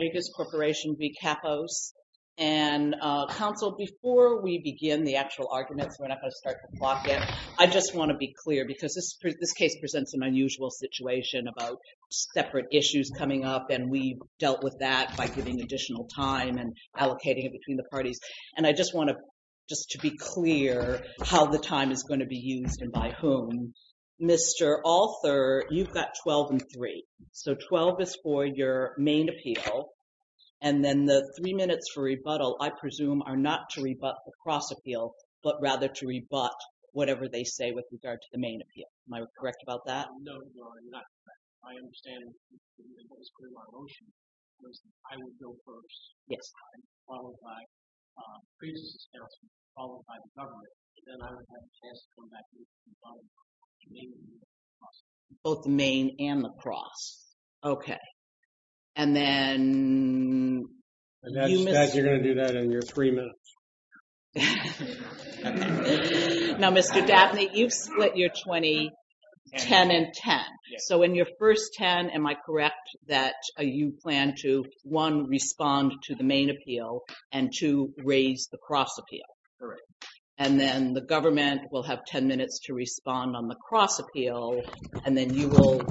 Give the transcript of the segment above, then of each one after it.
Gregis Corporation v. Kappos. And, Council, before we begin the actual arguments, we're not going to start the clock yet, I just want to be clear, because this case presents an unusual situation about separate issues coming up, and we've dealt with that by giving additional time and allocating it between the parties. And I just want to, just to be clear, how the time is going to be used and by whom. Mr. Alter, you've got 12 and 3. So 12 is for your main appeal, and then the 3 minutes for rebuttal, I presume, are not to rebut the cross-appeal, but rather to rebut whatever they say with regard to the main appeal. Am I correct about that? No, Your Honor, you're not correct. My understanding, what was put in my motion, was that I would go first, followed by previous counsel, followed by the government, and then I would have a chance to come back and rebut the cross-appeal. Both the main and the cross. Okay. And then... And that's, you're going to do that in your 3 minutes. Now, Mr. Daphne, you've split your 20, 10 and 10. So in your first 10, am I correct that you plan to, one, respond to the main appeal, and two, raise the cross-appeal? Correct. And then the government will have 10 minutes to respond on the cross-appeal, and then you will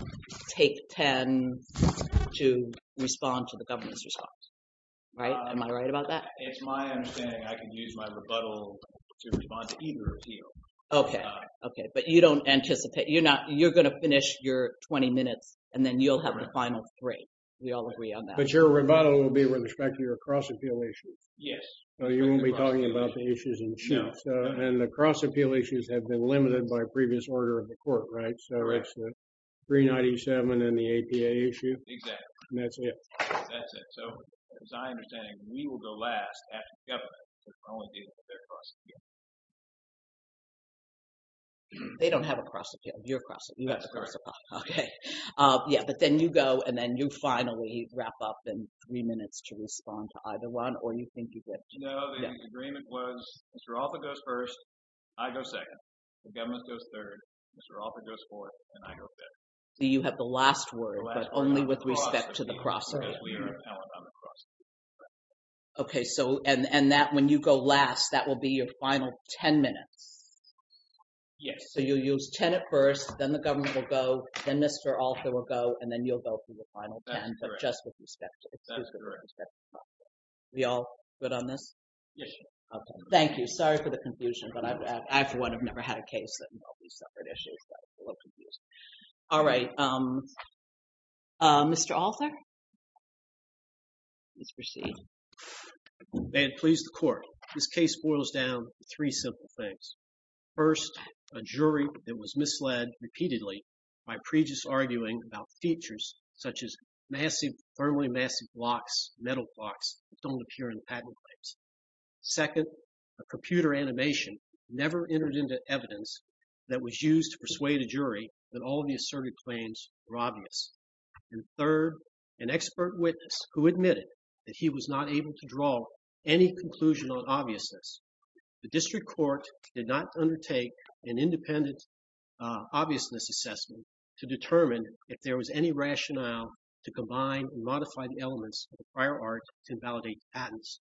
take 10 to respond to the government's response. Right? Am I right about that? It's my understanding I can use my rebuttal to respond to either appeal. Okay. Okay. But you don't anticipate, you're not, you're going to finish your 20 minutes, and then you'll have the final three. We all agree on that. But your rebuttal will be with respect to your cross-appeal issues. Yes. So you won't be talking about the issues in the suit. No. And the cross-appeal issues have been limited by previous order of the court, right? So it's the 397 and the APA issue. Exactly. And that's it. That's it. So it's my understanding we will go last after the government, because we're only dealing with their cross-appeal. They don't have a cross-appeal. You have a cross-appeal. That's correct. Okay. Yeah, but then you go, and then you finally wrap up in three minutes to respond to either one, or you think you did? No, the agreement was Mr. Arthur goes first, I go second, the government goes third, Mr. Arthur goes fourth, and I go fifth. So you have the last word, but only with respect to the cross-appeal. Okay, so, and that when you go last, that will be your final 10 minutes. Yes. So you'll use 10 at first, then the government will go, then Mr. Arthur will go, and then you'll go through the final 10, but just with respect to the cross-appeal. That's correct. We all good on this? Yes. Okay. Thank you. Sorry for the confusion, but I for one have never had a case that involved these separate issues, so I was a little confused. All right. Mr. Arthur, please proceed. May it please the court, this case boils down to three simple things. First, a jury that was misled repeatedly by prejudice arguing about features such as massive, firmly massive blocks, metal blocks that don't appear in the patent claims. Second, a computer animation never entered into evidence that was used to persuade a jury that all of the asserted claims were obvious. And third, an expert witness who admitted that he was not able to draw any conclusion on obviousness. The district court did not undertake an independent obviousness assessment to determine if there was any rationale to combine and modify the elements of the prior art to validate patents.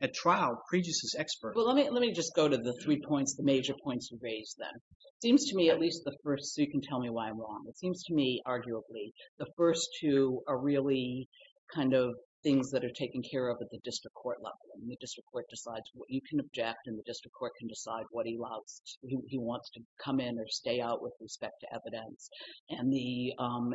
At trial, prejudice is expert. Well, let me just go to the three points, the major points you raised then. It seems to me at least the first, so you can tell me why I'm wrong. It seems to me, arguably, the first two are really kind of things that are taken care of at the district court level. The district court decides what you can object, and the district court can decide what he wants to come in or stay out with respect to evidence. And the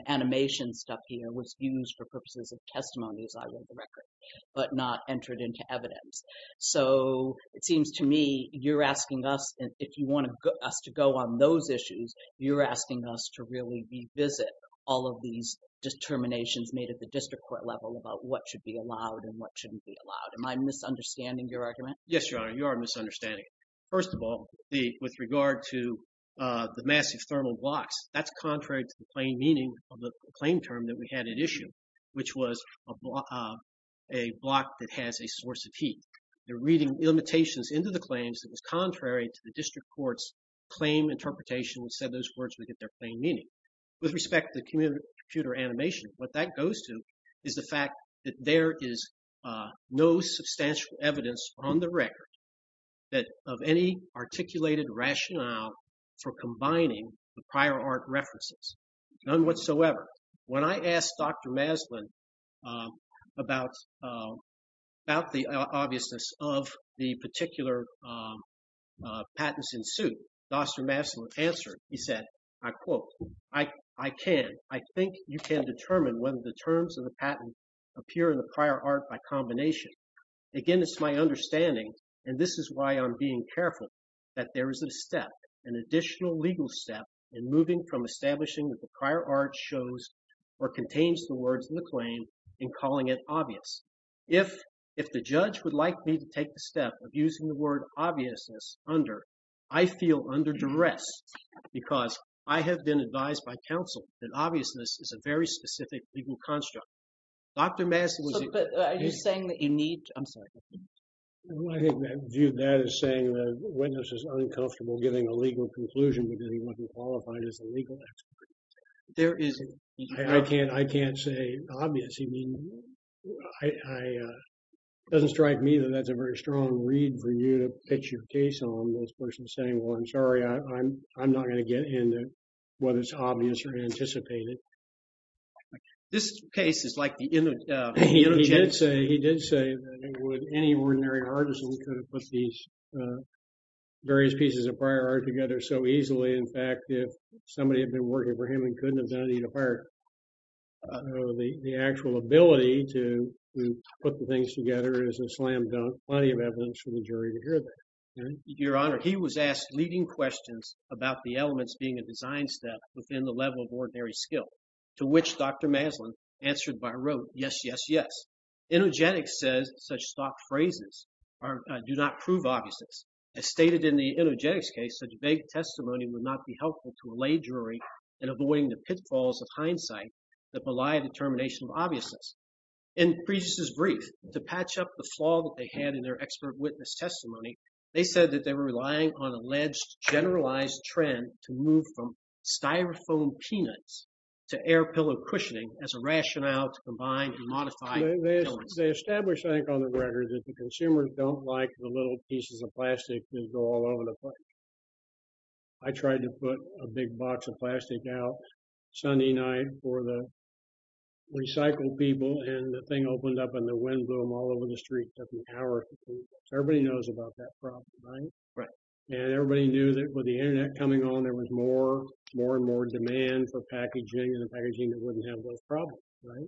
animation stuff here was used for purposes of testimony, as I read the record, but not entered into evidence. So it seems to me you're asking us, if you want us to go on those issues, you're asking us to really revisit all of these determinations made at the district court level about what should be allowed and what shouldn't be allowed. Am I misunderstanding your argument? Yes, Your Honor. You are misunderstanding it. First of all, with regard to the massive thermal blocks, that's contrary to the plain meaning of the claim term that we had at issue, which was a block that has a source of heat. You're reading limitations into the claims that was contrary to the district court's claim interpretation that said those words would get their plain meaning. With respect to the computer animation, what that goes to is the fact that there is no substantial evidence on the record of any articulated rationale for combining the prior art references. None whatsoever. However, when I asked Dr. Maslin about the obviousness of the particular patents in suit, Dr. Maslin answered. He said, I quote, I can. I think you can determine whether the terms of the patent appear in the prior art by combination. Again, it's my understanding, and this is why I'm being careful, that there is a step, an additional legal step in moving from establishing that the prior art shows or contains the words in the claim and calling it obvious. If the judge would like me to take the step of using the word obviousness under, I feel under duress because I have been advised by counsel that obviousness is a very specific legal construct. Dr. Maslin. Are you saying that you need? I'm sorry. I think that view that is saying the witness is uncomfortable giving a legal conclusion because he wasn't qualified as a legal expert. There is. I can't say obvious. I mean, it doesn't strike me that that's a very strong read for you to pitch your case on. This person saying, well, I'm sorry, I'm not going to get into whether it's obvious or anticipated. This case is like the image. He did say, he did say that any ordinary artisan could have put these various pieces of prior art together so easily. In fact, if somebody had been working for him and couldn't have done it, he'd acquired the actual ability to put the things together as a slam dunk. Plenty of evidence for the jury to hear that. Your Honor, he was asked leading questions about the elements being a design step within the level of ordinary skill to which Dr. Maslin answered by road. Yes, yes, yes. Energetic says such stock phrases do not prove obviousness as stated in the energetic case. Such vague testimony would not be helpful to a lay jury in avoiding the pitfalls of hindsight that belie the termination of obviousness. In Priestess's brief to patch up the flaw that they had in their expert witness testimony, they said that they were relying on alleged generalized trend to move from styrofoam peanuts to air pillow cushioning as a rationale to combine and modify. They established, I think, on the record that the consumers don't like the little pieces of plastic that go all over the place. I tried to put a big box of plastic out Sunday night for the recycled people, and the thing opened up and the wind blew them all over the street. Everybody knows about that problem, right? Right. And everybody knew that with the Internet coming on, there was more and more demand for packaging and the packaging that wouldn't have those problems, right?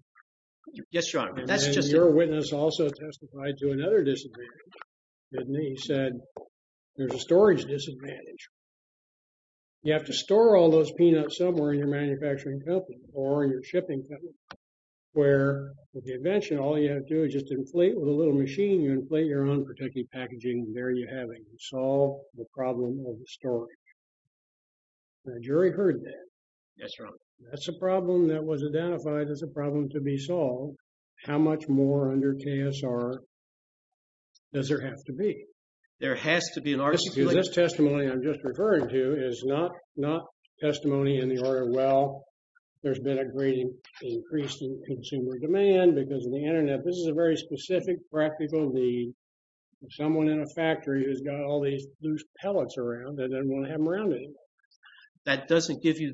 Yes, Your Honor. And your witness also testified to another disadvantage, didn't he? He said, there's a storage disadvantage. You have to store all those peanuts somewhere in your manufacturing company or in your shipping company where, with the invention, all you have to do is just inflate with a little machine. You inflate your own protective packaging, and there you have it. You solve the problem of the storage. The jury heard that. Yes, Your Honor. That's a problem that was identified as a problem to be solved. How much more under KSR does there have to be? There has to be an articulation. This testimony I'm just referring to is not testimony in the order, well, there's been a great increase in consumer demand because of the Internet. This is a very specific practical need of someone in a factory who's got all these loose pellets around that they don't want to have them around anymore. That doesn't give you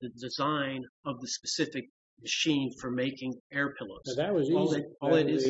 the design of the specific machine for making air pillows. That was easy. All it is—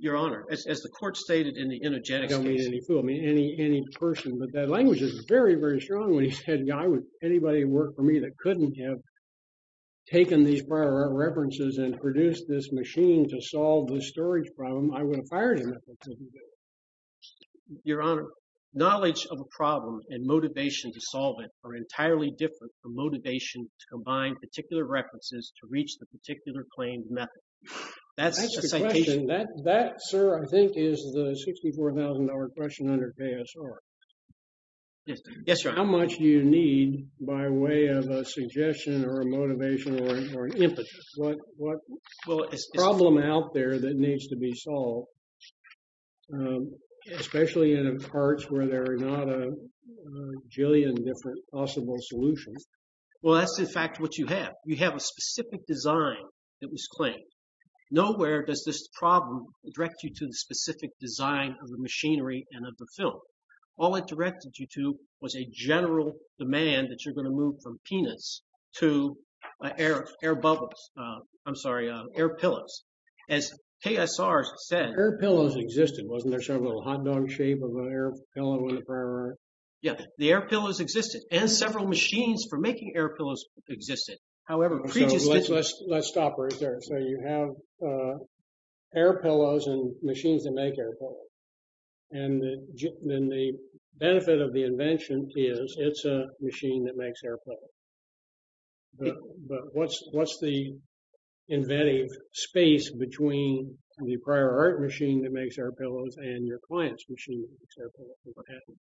Your Honor, as the court stated in the energetic case— I don't mean any fool. I mean any person. But that language is very, very strong when he said, you know, I would—anybody who worked for me that couldn't have taken these prior references and produced this machine to solve the storage problem, I would have fired him. Your Honor, knowledge of a problem and motivation to solve it are entirely different from motivation to combine particular references to reach the particular claimed method. That's a citation. That, sir, I think is the $64,000 question under KSR. Yes, Your Honor. How much do you need by way of a suggestion or a motivation or an impetus? What problem out there that needs to be solved, especially in parts where there are not a jillion different possible solutions? Well, that's, in fact, what you have. You have a specific design that was claimed. Nowhere does this problem direct you to the specific design of the machinery and of the film. All it directed you to was a general demand that you're going to move from peanuts to air bubbles—I'm sorry, air pillows. As KSR said— Air pillows existed. Wasn't there some little hot dog shape of an air pillow in the prior art? Yeah, the air pillows existed. And several machines for making air pillows existed. Let's stop right there. So you have air pillows and machines that make air pillows. And then the benefit of the invention is it's a machine that makes air pillows. But what's the inventive space between the prior art machine that makes air pillows and your client's machine that makes air pillows?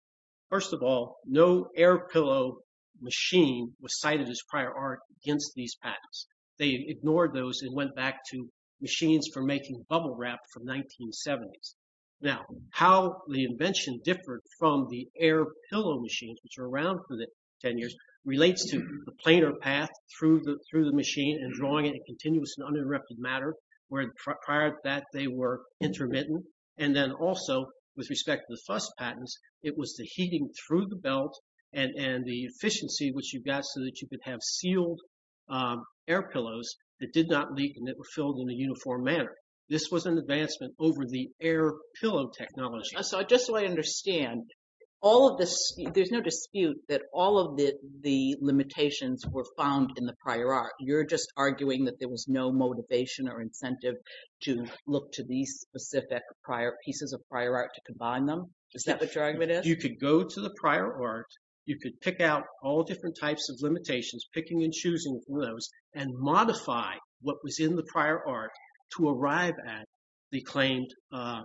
First of all, no air pillow machine was cited as prior art against these patents. They ignored those and went back to machines for making bubble wrap from the 1970s. Now, how the invention differed from the air pillow machines, which were around for the 10 years, relates to the planar path through the machine and drawing it in continuous and uninterrupted matter, where prior to that they were intermittent. And then also, with respect to the fuss patents, it was the heating through the belt and the efficiency, which you got so that you could have sealed air pillows that did not leak and that were filled in a uniform manner. This was an advancement over the air pillow technology. So just so I understand, all of this—there's no dispute that all of the limitations were found in the prior art. You're just arguing that there was no motivation or incentive to look to these specific pieces of prior art to combine them? Is that what your argument is? You could go to the prior art. You could pick out all different types of limitations, picking and choosing from those, and modify what was in the prior art to arrive at the claimed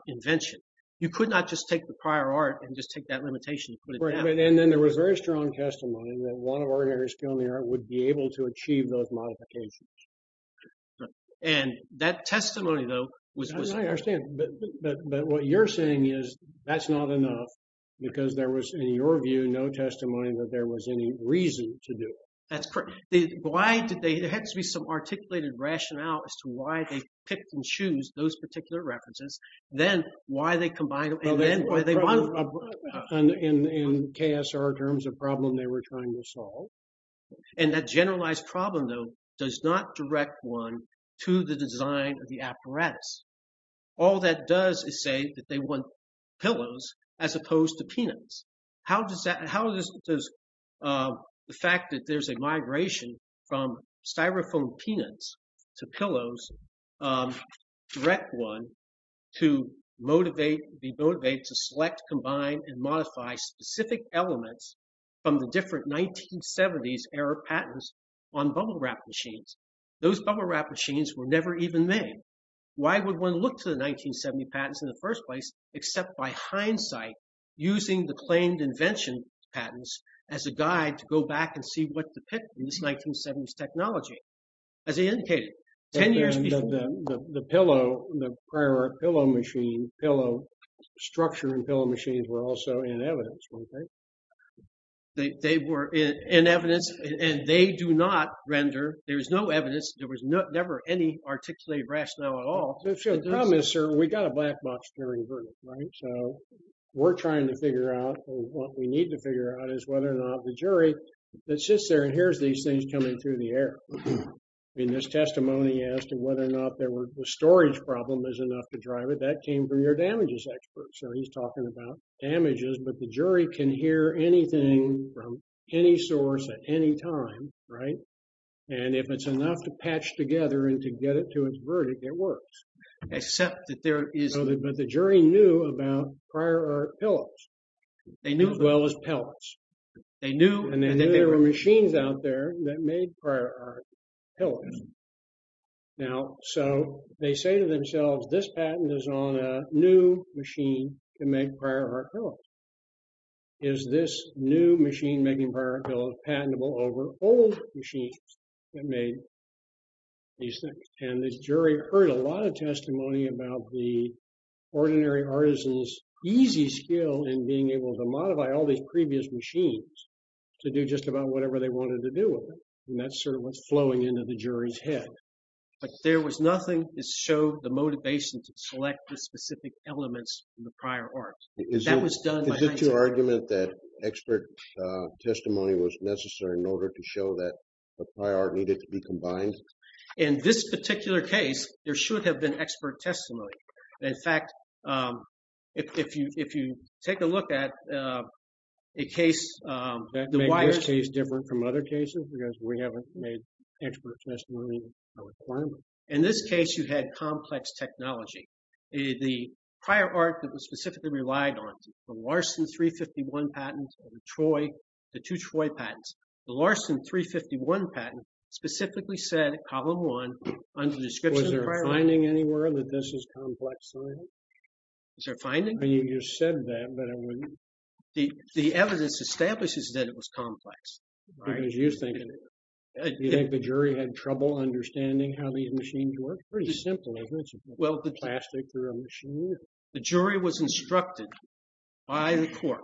invention. You could not just take the prior art and just take that limitation and put it down. Right, and then there was very strong testimony that one of our areas of the art would be able to achieve those modifications. And that testimony, though, was— I understand. But what you're saying is that's not enough because there was, in your view, no testimony that there was any reason to do it. That's correct. Why did they—there had to be some articulated rationale as to why they picked and chose those particular references, then why they combined them, and then why they— In KSR terms, a problem they were trying to solve. And that generalized problem, though, does not direct one to the design of the apparatus. All that does is say that they want pillows as opposed to peanuts. How does that—how does the fact that there's a migration from styrofoam peanuts to pillows direct one to motivate—be motivated to select, combine, and modify specific elements from the different 1970s-era patents on bubble wrap machines? Those bubble wrap machines were never even made. Why would one look to the 1970 patents in the first place, except by hindsight, using the claimed invention patents as a guide to go back and see what depicted in this 1970s technology? As I indicated, 10 years before— The pillow—the prior pillow machine—pillow structure and pillow machines were also in evidence, weren't they? They were in evidence, and they do not render—there is no evidence. There was never any articulated rationale at all. The problem is, sir, we got a black box hearing verdict, right? So we're trying to figure out—or what we need to figure out is whether or not the jury that sits there and hears these things coming through the air. I mean, this testimony as to whether or not there were—the storage problem is enough to drive it. That came from your damages expert. So he's talking about damages, but the jury can hear anything from any source at any time, right? And if it's enough to patch together and to get it to its verdict, it works. Except that there is— But the jury knew about prior art pillows. They knew. As well as pillows. They knew. And then there were machines out there that made prior art pillows. Now, so they say to themselves, this patent is on a new machine to make prior art pillows. Is this new machine making prior art pillows patentable over old machines that made these things? And the jury heard a lot of testimony about the ordinary artisan's easy skill in being able to modify all these previous machines to do just about whatever they wanted to do with it. And that's sort of what's flowing into the jury's head. But there was nothing that showed the motivation to select the specific elements in the prior art. That was done by— Is it your argument that expert testimony was necessary in order to show that the prior art needed to be combined? In this particular case, there should have been expert testimony. In fact, if you take a look at a case— That made this case different from other cases because we haven't made expert testimony a requirement. In this case, you had complex technology. The prior art that was specifically relied on, the Larson 351 patent and the two Troy patents. The Larson 351 patent specifically said, column one, under the description of prior art— Was there a finding anywhere that this is complex science? Is there a finding? I mean, you just said that, but I wouldn't— The evidence establishes that it was complex. Because you think it was. Do you think the jury had trouble understanding how these machines worked? It's pretty simple, isn't it? Well, the jury was instructed by the court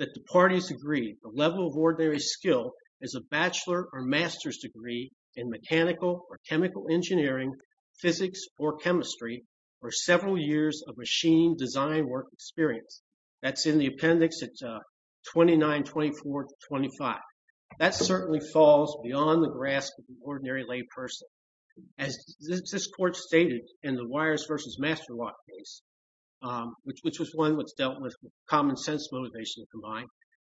that the parties agreed the level of ordinary skill is a bachelor or master's degree in mechanical or chemical engineering, physics or chemistry, or several years of machine design work experience. That's in the appendix at 2924-25. That certainly falls beyond the grasp of an ordinary lay person. As this court stated in the Weyers v. Masterlock case, which was one that's dealt with common sense motivation combined,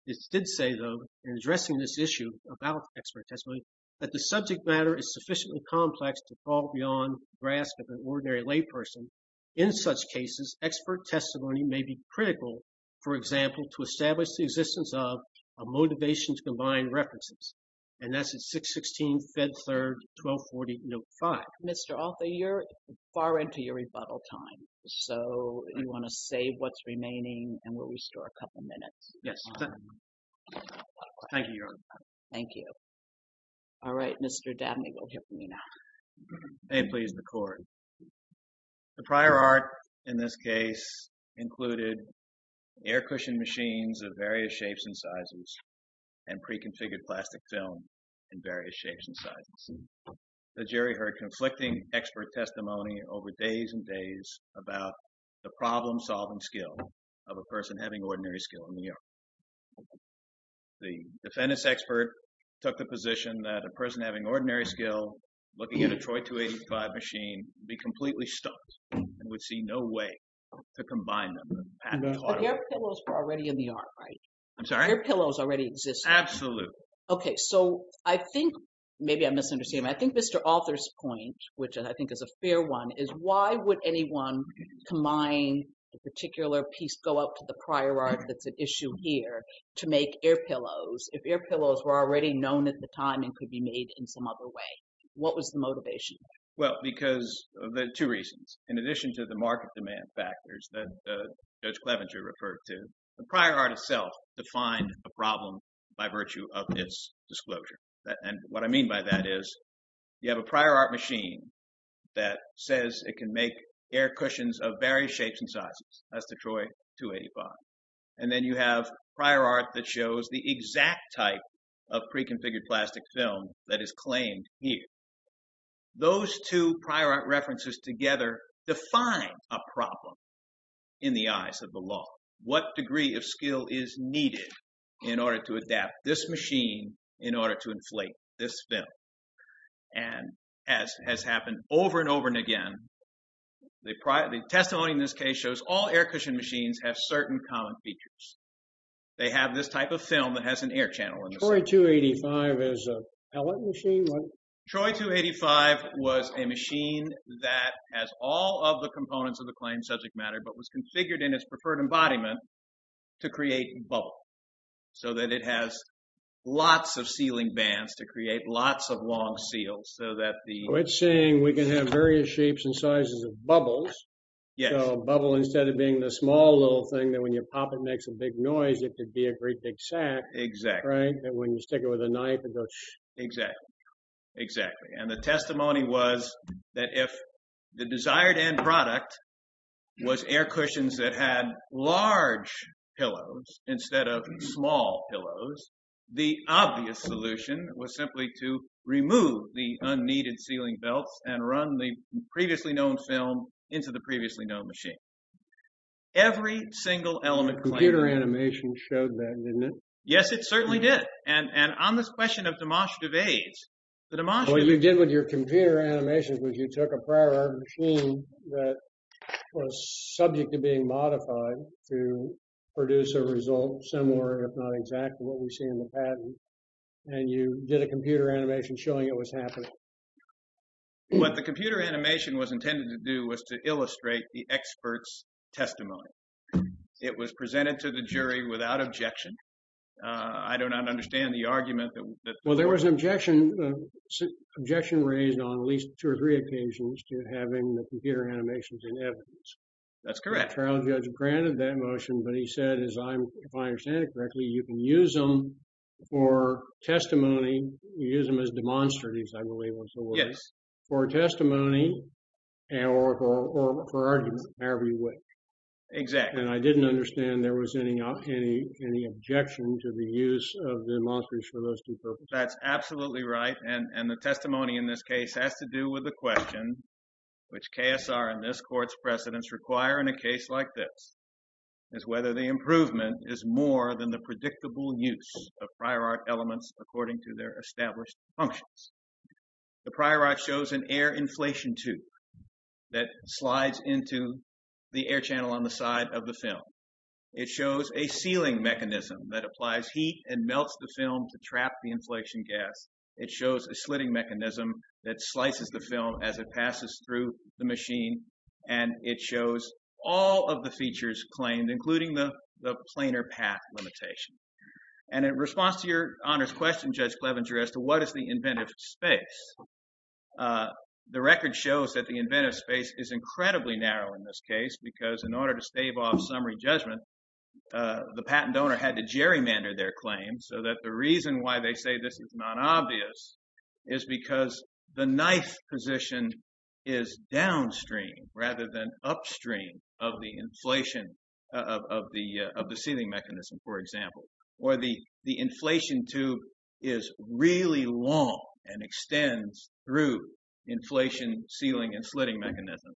it did say, though, in addressing this issue about expert testimony, that the subject matter is sufficiently complex to fall beyond the grasp of an ordinary lay person. In such cases, expert testimony may be critical, for example, to establish the existence of a motivation to combine references. And that's at 616 Fed Third 1240 Note 5. Mr. Altha, you're far into your rebuttal time, so you want to save what's remaining and we'll restore a couple minutes. Thank you, Your Honor. Thank you. All right, Mr. Dabney, we'll hear from you now. May it please the court. The prior art in this case included air-cushioned machines of various shapes and sizes and pre-configured plastic film in various shapes and sizes. The jury heard conflicting expert testimony over days and days about the problem-solving skill of a person having ordinary skill in New York. The defendant's expert took the position that a person having ordinary skill looking at a Troy 285 machine would be completely stumped and would see no way to combine them. The air pillows were already in the art, right? I'm sorry? Air pillows already existed. Absolutely. Okay, so I think maybe I'm misunderstanding. I think Mr. Altha's point, which I think is a fair one, is why would anyone combine a particular piece, go up to the prior art that's at issue here to make air pillows if air pillows were already known at the time and could be made in some other way? What was the motivation? Well, because there are two reasons. In addition to the market demand factors that Judge Clevenger referred to, the prior art itself defined a problem by virtue of its disclosure. And what I mean by that is you have a prior art machine that says it can make air cushions of various shapes and sizes. That's the Troy 285. And then you have prior art that shows the exact type of pre-configured plastic film that is claimed here. Those two prior art references together define a problem in the eyes of the law. What degree of skill is needed in order to adapt this machine in order to inflate this film? And as has happened over and over and again, the testimony in this case shows all air cushion machines have certain common features. They have this type of film that has an air channel in the center. Troy 285 is a pellet machine? Troy 285 was a machine that has all of the components of the claim subject matter but was configured in its preferred embodiment to create bubble. So that it has lots of sealing bands to create lots of long seals so that the… So it's saying we can have various shapes and sizes of bubbles. Yes. So bubble instead of being the small little thing that when you pop it makes a big noise it could be a great big sack. Exactly. Right? And when you stick it with a knife it goes… Exactly. Exactly. And the testimony was that if the desired end product was air cushions that had large pillows instead of small pillows, the obvious solution was simply to remove the unneeded sealing belts and run the previously known film into the previously known machine. Every single element… Computer animation showed that, didn't it? Yes, it certainly did. And on this question of demonstrative aids… What you did with your computer animations was you took a prior machine that was subject to being modified to produce a result similar if not exact to what we see in the patent and you did a computer animation showing it was happening. What the computer animation was intended to do was to illustrate the expert's testimony. It was presented to the jury without objection. I do not understand the argument that… Well, there was an objection raised on at least two or three occasions to having the computer animations in evidence. That's correct. The trial judge granted that motion, but he said, if I understand it correctly, you can use them for testimony. You use them as demonstratives, I believe was the word. Yes. For testimony or for argument, however you wish. Exactly. And I didn't understand there was any objection to the use of demonstratives for those two purposes. That's absolutely right. And the testimony in this case has to do with the question, which KSR and this court's precedents require in a case like this, is whether the improvement is more than the predictable use of prior art elements according to their established functions. The prior art shows an air inflation tube that slides into the air channel on the side of the film. It shows a sealing mechanism that applies heat and melts the film to trap the inflation gas. It shows a slitting mechanism that slices the film as it passes through the machine. And it shows all of the features claimed, including the planar path limitation. And in response to your Honor's question, Judge Clevenger, as to what is the inventive space, the record shows that the inventive space is incredibly narrow in this case because in order to stave off summary judgment, the patent owner had to gerrymander their claim so that the reason why they say this is not obvious is because the knife position is downstream rather than upstream of the inflation of the sealing mechanism, for example. Or the inflation tube is really long and extends through inflation, sealing, and slitting mechanism.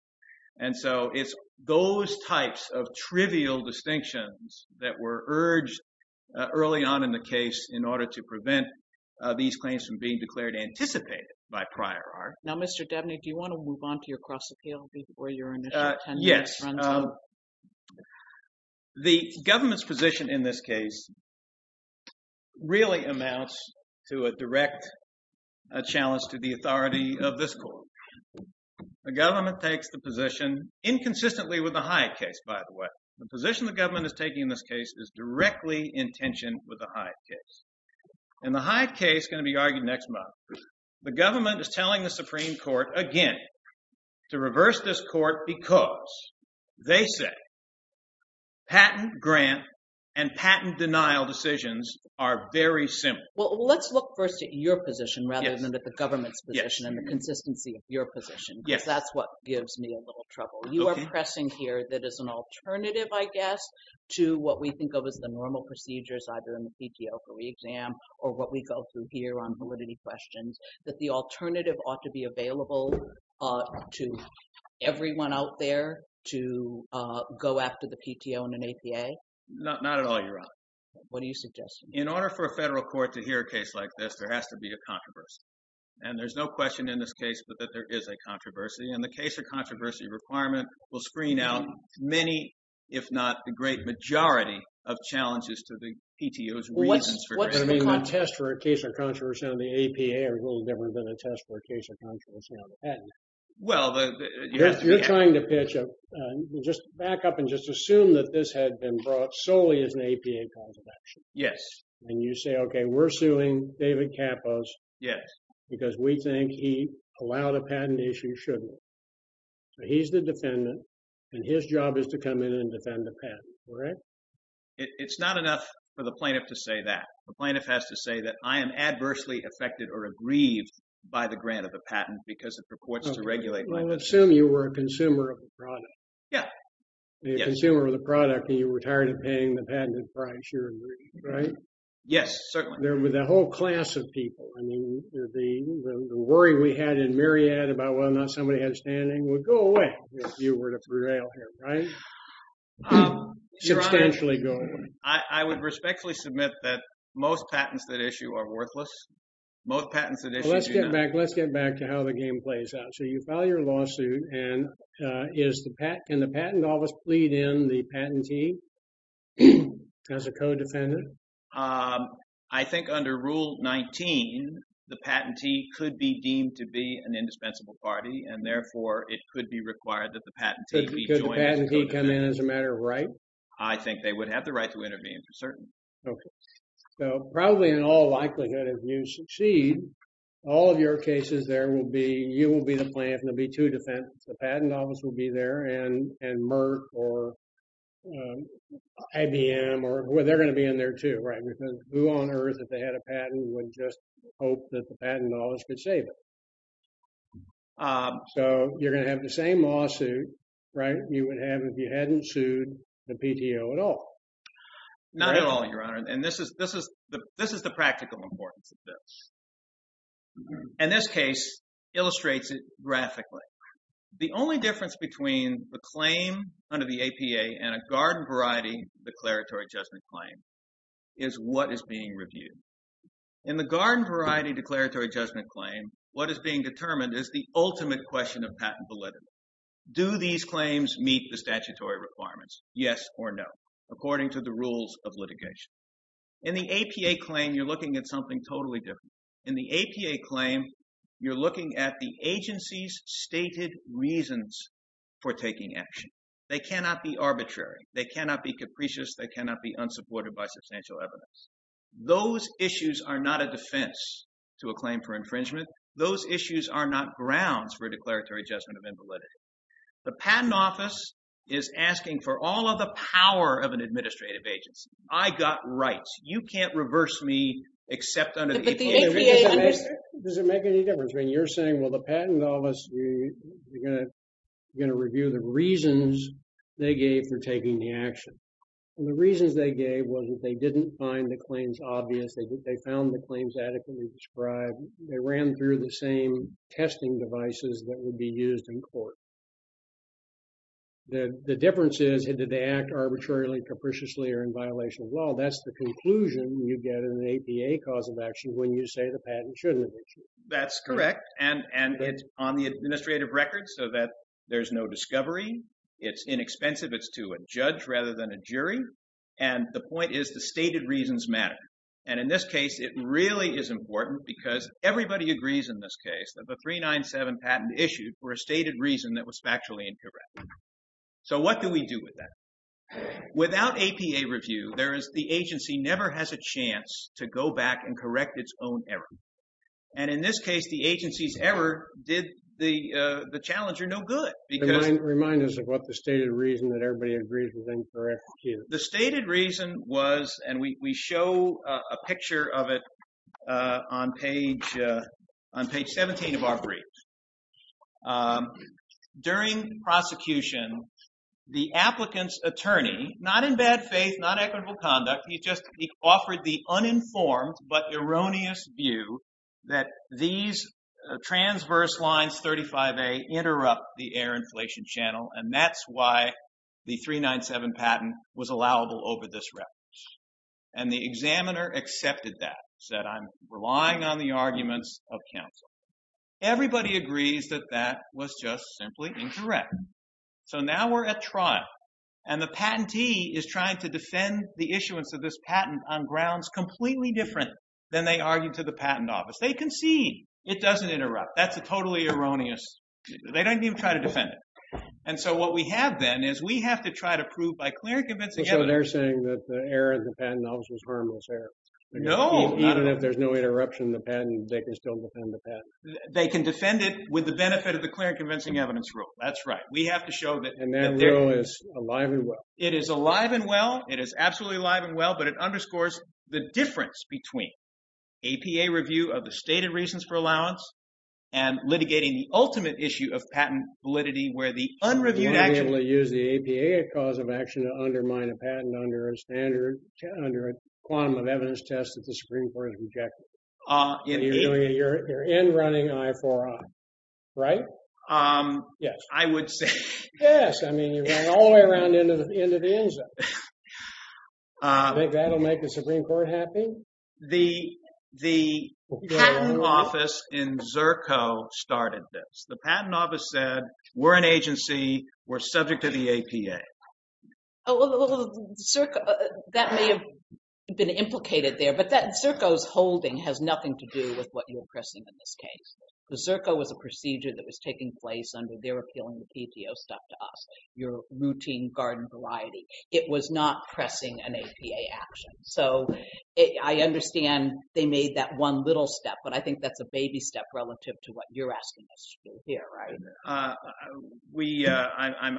And so it's those types of trivial distinctions that were urged early on in the case in order to prevent these claims from being declared anticipated by prior art. Now, Mr. Dabney, do you want to move on to your cross-appeal before your initial ten minutes run time? Yes. The government's position in this case really amounts to a direct challenge to the authority of this court. The government takes the position, inconsistently with the Hyatt case, by the way. The position the government is taking in this case is directly in tension with the Hyatt case. And the Hyatt case is going to be argued next month. The government is telling the Supreme Court again to reverse this court because they say patent grant and patent denial decisions are very simple. Well, let's look first at your position rather than at the government's position and the consistency of your position because that's what gives me a little trouble. You are pressing here that as an alternative, I guess, to what we think of as the normal procedures either in the PTO for re-exam or what we go through here on validity questions, that the alternative ought to be available to everyone out there to go after the PTO in an APA? Not at all, Your Honor. What are you suggesting? In order for a federal court to hear a case like this, there has to be a controversy. And there's no question in this case that there is a controversy. And the case of controversy requirement will screen out many, if not the great majority, of challenges to the PTO's reasons for doing that. What's the contest for a case of controversy on the APA a little different than a test for a case of controversy on the patent? Well, the— You're trying to pitch a—just back up and just assume that this had been brought solely as an APA cause of action. Yes. And you say, okay, we're suing David Kapos. Yes. Because we think he allowed a patent issue, shouldn't he? So he's the defendant, and his job is to come in and defend the patent. Correct? It's not enough for the plaintiff to say that. The plaintiff has to say that I am adversely affected or aggrieved by the grant of the patent because it purports to regulate my— Well, assume you were a consumer of the product. Yeah. A consumer of the product, and you were tired of paying the patented price. You're aggrieved, right? Yes, certainly. The whole class of people, I mean, the worry we had in Myriad about whether or not somebody had a standing would go away if you were to prevail here, right? Substantially go away. I would respectfully submit that most patents that issue are worthless. Most patents that issue do not. Let's get back to how the game plays out. So you file your lawsuit, and can the patent office plead in the patentee as a co-defendant? I think under Rule 19, the patentee could be deemed to be an indispensable party, and therefore, it could be required that the patentee be joined as a co-defendant. Could the patentee come in as a matter of right? I think they would have the right to intervene for certain. Okay. So probably in all likelihood, if you succeed, all of your cases there will be—you will be the plaintiff, and there will be two defendants. The patent office will be there, and Merck or IBM, they're going to be in there too, right? Because who on earth, if they had a patent, would just hope that the patent office could save it? So you're going to have the same lawsuit, right, you would have if you hadn't sued the PTO at all. Not at all, Your Honor. And this is the practical importance of this. And this case illustrates it graphically. The only difference between the claim under the APA and a garden-variety declaratory judgment claim is what is being reviewed. In the garden-variety declaratory judgment claim, what is being determined is the ultimate question of patent validity. Do these claims meet the statutory requirements, yes or no, according to the rules of litigation? In the APA claim, you're looking at something totally different. In the APA claim, you're looking at the agency's stated reasons for taking action. They cannot be arbitrary. They cannot be capricious. They cannot be unsupported by substantial evidence. Those issues are not a defense to a claim for infringement. Those issues are not grounds for a declaratory judgment of invalidity. The patent office is asking for all of the power of an administrative agency. I got rights. You can't reverse me except under the APA. Does it make any difference? I mean, you're saying, well, the patent office is going to review the reasons they gave for taking the action. And the reasons they gave was that they didn't find the claims obvious. They found the claims adequately described. They ran through the same testing devices that would be used in court. The difference is, did they act arbitrarily, capriciously, or in violation of law? That's the conclusion you get in an APA cause of action when you say the patent shouldn't have been issued. That's correct. And it's on the administrative record so that there's no discovery. It's inexpensive. It's to a judge rather than a jury. And the point is the stated reasons matter. And in this case, it really is important because everybody agrees in this case that the 397 patent issued for a stated reason that was factually incorrect. So what do we do with that? Without APA review, the agency never has a chance to go back and correct its own error. And in this case, the agency's error did the challenger no good. Remind us of what the stated reason that everybody agrees was incorrect is. The stated reason was, and we show a picture of it on page 17 of our brief. During prosecution, the applicant's attorney, not in bad faith, not equitable conduct, he just offered the uninformed but erroneous view that these transverse lines 35A interrupt the air inflation channel, and that's why the 397 patent was allowable over this record. And the examiner accepted that, said, I'm relying on the arguments of counsel. Everybody agrees that that was just simply incorrect. So now we're at trial, and the patentee is trying to defend the issuance of this patent on grounds completely different than they argued to the patent office. They concede it doesn't interrupt. That's a totally erroneous. They don't even try to defend it. And so what we have then is we have to try to prove by clear and convincing evidence. So they're saying that the error of the patent office was harmless error. No. Even if there's no interruption in the patent, they can still defend the patent. They can defend it with the benefit of the clear and convincing evidence rule. That's right. We have to show that. And that rule is alive and well. It is alive and well. It is absolutely alive and well, but it underscores the difference between APA review of the stated reasons for allowance and litigating the ultimate issue of patent validity where the unreviewed action. You're able to use the APA cause of action to undermine a patent under a standard, under a quantum of evidence test that the Supreme Court has rejected. You're in running I4I, right? Yes. I would say. Yes. I mean, you're running all the way around into the end zone. You think that'll make the Supreme Court happy? The patent office in Zerko started this. The patent office said, we're an agency, we're subject to the APA. Well, Zerko, that may have been implicated there, but that Zerko's holding has nothing to do with what you're pressing in this case. The Zerko was a procedure that was taking place under their appealing the PTO stuff to us, your routine garden variety. It was not pressing an APA action. So I understand they made that one little step, but I think that's a baby step relative to what you're asking us to do here, right?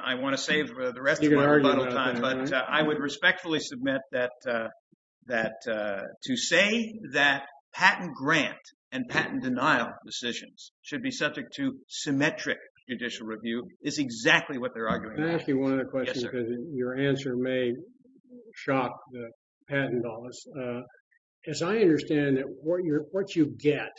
I want to save the rest of my rebuttal time, but I would respectfully submit that to say that patent grant and patent denial decisions should be subject to symmetric judicial review is exactly what they're arguing about. I want to ask you one other question because your answer may shock the patent office. As I understand it, what you get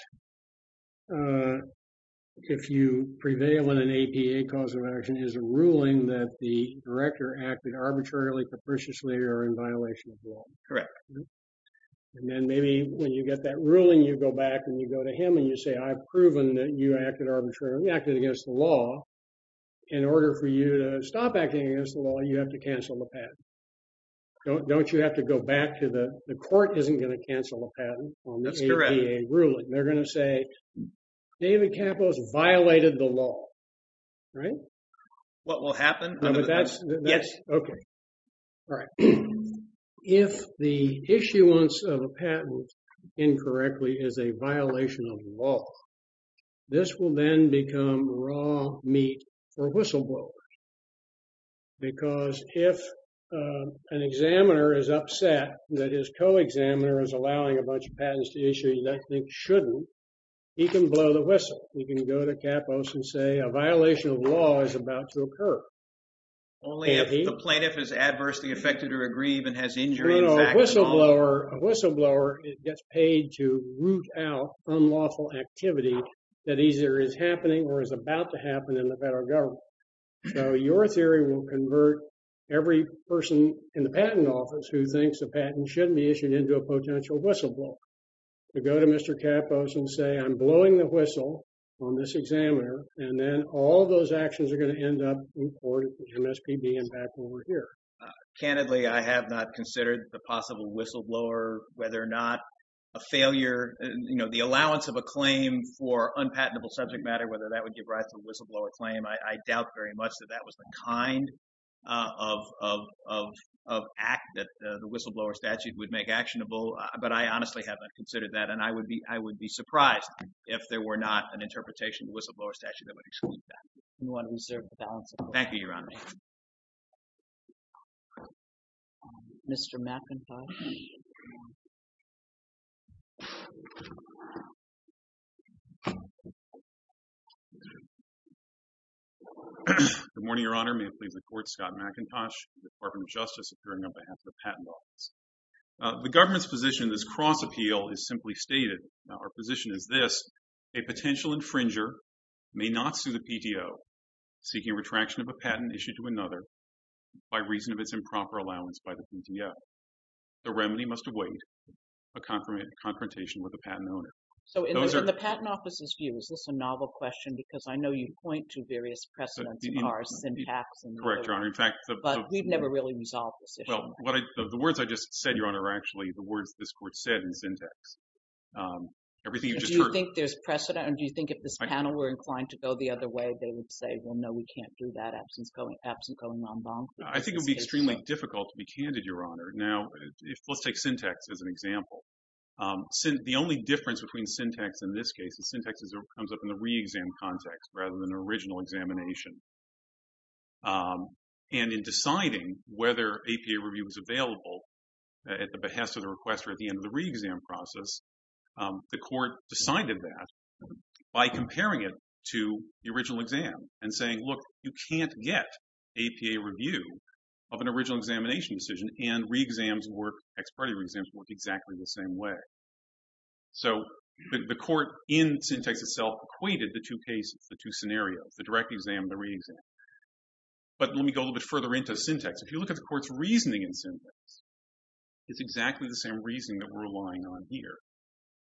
if you prevail in an APA cause of action is a ruling that the director acted arbitrarily, capriciously or in violation of law. Correct. And then maybe when you get that ruling, you go back and you go to him and you say, I've proven that you acted arbitrarily, acted against the law. In order for you to stop acting against the law, you have to cancel the patent. Don't you have to go back to the court isn't going to cancel a patent on the APA ruling. They're going to say, David Kapos violated the law. Right. What will happen? Yes. Okay. All right. If the issuance of a patent incorrectly is a violation of law, this will then become raw meat for whistleblowers. Because if an examiner is upset that his co-examiner is allowing a bunch of patents to issue that they shouldn't, he can blow the whistle. You can go to Kapos and say a violation of law is about to occur. Only if the plaintiff is adversely affected or aggrieved and has injury. A whistleblower gets paid to root out unlawful activity that either is happening or is about to happen in the federal government. So your theory will convert every person in the patent office who thinks a patent shouldn't be issued into a potential whistleblower. Go to Mr. Kapos and say I'm blowing the whistle on this examiner. And then all those actions are going to end up in court for MSPB and back over here. Candidly, I have not considered the possible whistleblower, whether or not a failure, you know, the allowance of a claim for unpatentable subject matter, whether that would give rise to a whistleblower claim. I doubt very much that that was the kind of act that the whistleblower statute would make actionable. But I honestly haven't considered that. And I would be surprised if there were not an interpretation of the whistleblower statute that would exclude that. You want to reserve the balance of the court. Thank you, Your Honor. Mr. McIntosh. Good morning, Your Honor. May it please the Court. Scott McIntosh, Department of Justice, appearing on behalf of the Patent Office. The government's position in this cross-appeal is simply stated. Our position is this. A potential infringer may not sue the PTO seeking retraction of a patent issued to another by reason of its improper allowance by the PTO. The remedy must avoid a confrontation with the patent owner. So in the Patent Office's view, is this a novel question? Because I know you point to various precedents in our syntax. Correct, Your Honor. But we've never really resolved this issue. Well, the words I just said, Your Honor, are actually the words this Court said in syntax. Everything you just heard. Do you think there's precedent? And do you think if this panel were inclined to go the other way, they would say, well, no, we can't do that absent going en banc? I think it would be extremely difficult to be candid, Your Honor. Now, let's take syntax as an example. The only difference between syntax in this case is syntax comes up in the re-exam context rather than the original examination. And in deciding whether APA review was available at the behest of the requester at the end of the re-exam process, the Court decided that by comparing it to the original exam and saying, look, you can't get APA review of an original examination decision, and re-exams work, ex parte re-exams work exactly the same way. So the Court in syntax itself equated the two cases, the two scenarios, the direct exam and the re-exam. But let me go a little bit further into syntax. If you look at the Court's reasoning in syntax, it's exactly the same reasoning that we're relying on here.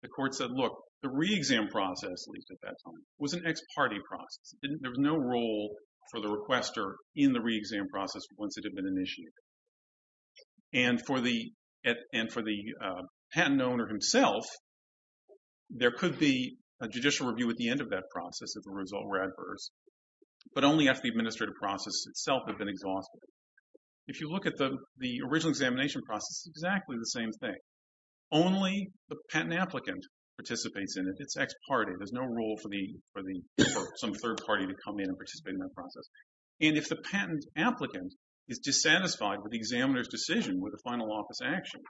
The Court said, look, the re-exam process, at least at that time, was an ex parte process. There was no role for the requester in the re-exam process once it had been initiated. And for the patent owner himself, there could be a judicial review at the end of that process if the results were adverse, but only after the administrative process itself had been exhausted. If you look at the original examination process, it's exactly the same thing. Only the patent applicant participates in it. It's ex parte. There's no role for some third party to come in and participate in that process. And if the patent applicant is dissatisfied with the examiner's decision with the final office action,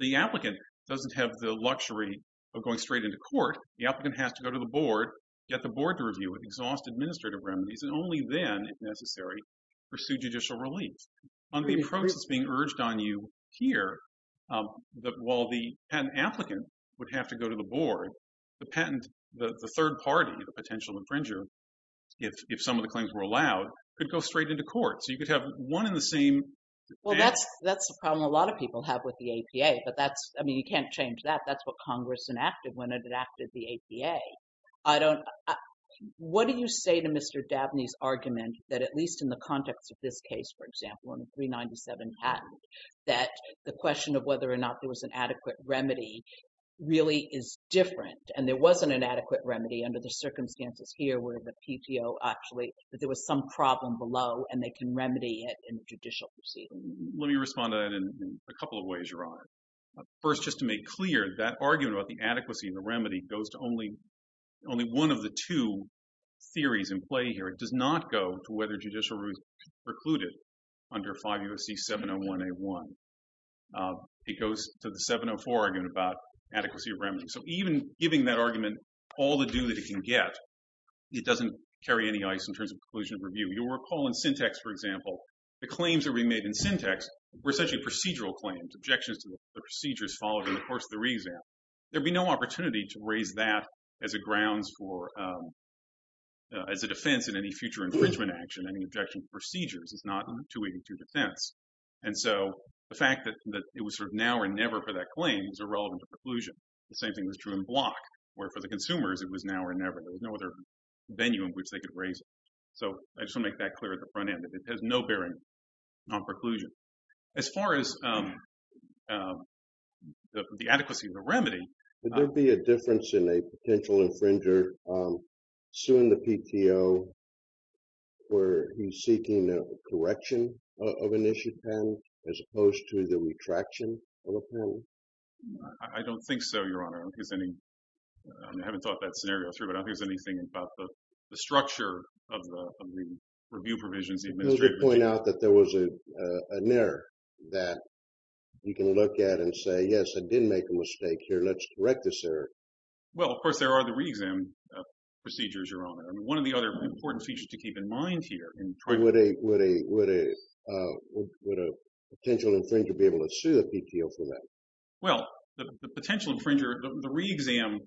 the applicant doesn't have the luxury of going straight into court. The applicant has to go to the board, get the board to review it, exhaust administrative remedies, and only then, if necessary, pursue judicial relief. On the process being urged on you here, while the patent applicant would have to go to the board, the third party, the potential infringer, if some of the claims were allowed, could go straight into court. So you could have one and the same thing. Well, that's the problem a lot of people have with the APA. I mean, you can't change that. That's what Congress enacted when it enacted the APA. What do you say to Mr. Dabney's argument that, at least in the context of this case, for example, on the 397 patent, that the question of whether or not there was an adequate remedy really is different, and there wasn't an adequate remedy under the circumstances here where the PTO actually, that there was some problem below and they can remedy it in a judicial proceeding? Let me respond to that in a couple of ways, Your Honor. First, just to make clear, that argument about the adequacy and the remedy goes to only one of the two theories in play here. It does not go to whether judicial review is precluded under 5 U.S.C. 701A1. It goes to the 704 argument about adequacy of remedy. So even giving that argument all the due that it can get, it doesn't carry any ice in terms of preclusion of review. You'll recall in Syntex, for example, the claims that were made in Syntex were essentially procedural claims, objections to the procedures followed in the course of the re-exam. There'd be no opportunity to raise that as a grounds for, as a defense in any future infringement action, any objection to procedures. It's not 282 defense. And so the fact that it was sort of now or never for that claim is irrelevant to preclusion. The same thing was true in Block, where for the consumers it was now or never. There was no other venue in which they could raise it. So I just want to make that clear at the front end. It has no bearing on preclusion. As far as the adequacy of the remedy. Would there be a difference in a potential infringer suing the PTO where he's seeking a correction of an issue panel, as opposed to the retraction of a panel? I don't think so, Your Honor. I don't think there's any. I haven't thought that scenario through, but I don't think there's anything about the structure of the review provisions. You pointed out that there was an error that you can look at and say, yes, I didn't make a mistake here. Let's correct this error. Well, of course, there are the re-exam procedures, Your Honor. One of the other important features to keep in mind here. Would a potential infringer be able to sue the PTO for that? Well, the potential infringer, the re-exam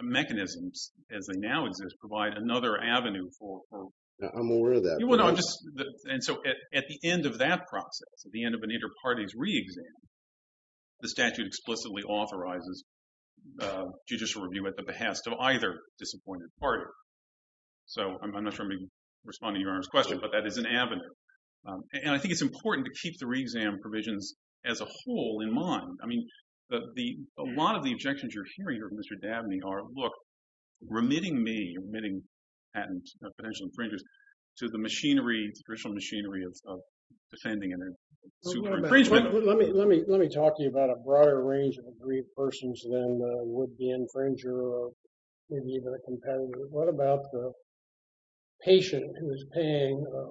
mechanisms as they now exist, provide another avenue for approval. I'm aware of that. And so at the end of that process, at the end of an inter-parties re-exam, the statute explicitly authorizes judicial review at the behest of either disappointed party. So I'm not sure I'm responding to Your Honor's question, but that is an avenue. And I think it's important to keep the re-exam provisions as a whole in mind. I mean, a lot of the objections you're hearing here, Mr. Dabney, are, look, remitting me, remitting patent potential infringers, to the machinery, the traditional machinery of defending a super infringement. Let me talk to you about a broader range of aggrieved persons than would be an infringer or maybe even a competitor. What about the patient who is paying a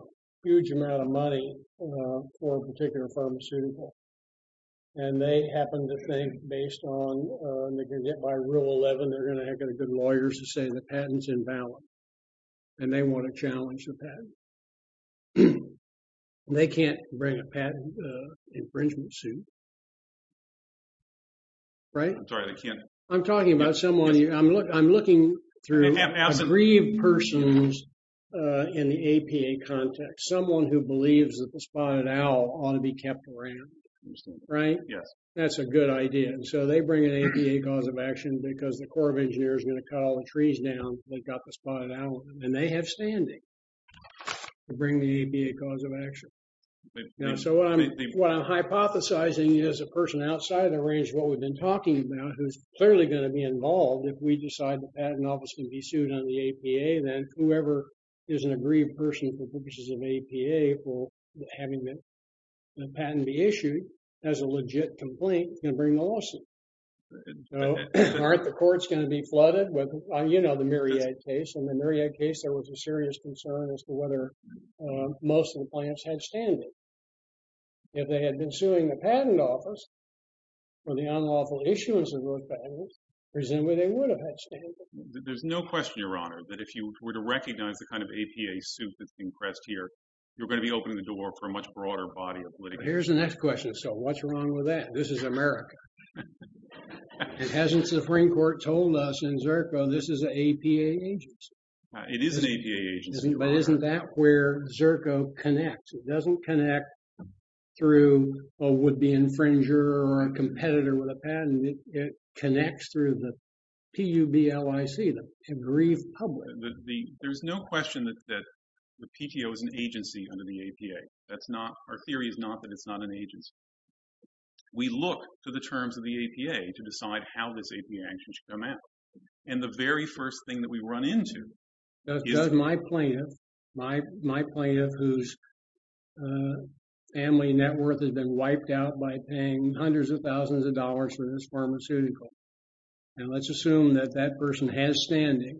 huge amount of money for a particular pharmaceutical? And they happen to think, based on the rule 11, they're going to get good lawyers to say the patent's invalid. And they want to challenge the patent. They can't bring a patent infringement suit. Right? I'm sorry, I can't. I'm talking about someone. I'm looking through aggrieved persons in the APA context. Someone who believes that the spotted owl ought to be kept around. Right? Yes. That's a good idea. And so they bring an APA cause of action because the Corps of Engineers are going to cut all the trees down. They've got the spotted owl. And they have standing to bring the APA cause of action. So what I'm hypothesizing is a person outside of the range of what we've been talking about, who's clearly going to be involved if we decide the patent office can be sued under the APA, then whoever is an aggrieved person for purposes of APA for having the patent be issued, has a legit complaint, is going to bring the lawsuit. So aren't the courts going to be flooded? You know the Myriad case. In the Myriad case, there was a serious concern as to whether most of the plants had standing. If they had been suing the patent office for the unlawful issuance of those patents, presumably they would have had standing. There's no question, Your Honor, that if you were to recognize the kind of APA suit that's been pressed here, you're going to be opening the door for a much broader body of litigation. Here's the next question. So what's wrong with that? This is America. It hasn't the Supreme Court told us in ZERCO this is an APA agency. It is an APA agency. But isn't that where ZERCO connects? It doesn't connect through a would-be infringer or a competitor with a patent. It connects through the PUBLIC, the aggrieved public. There's no question that the PTO is an agency under the APA. Our theory is not that it's not an agency. We look to the terms of the APA to decide how this APA action should come out. And the very first thing that we run into is – Does my plaintiff, my plaintiff whose family net worth has been wiped out by paying hundreds of thousands of dollars for this pharmaceutical, and let's assume that that person has standing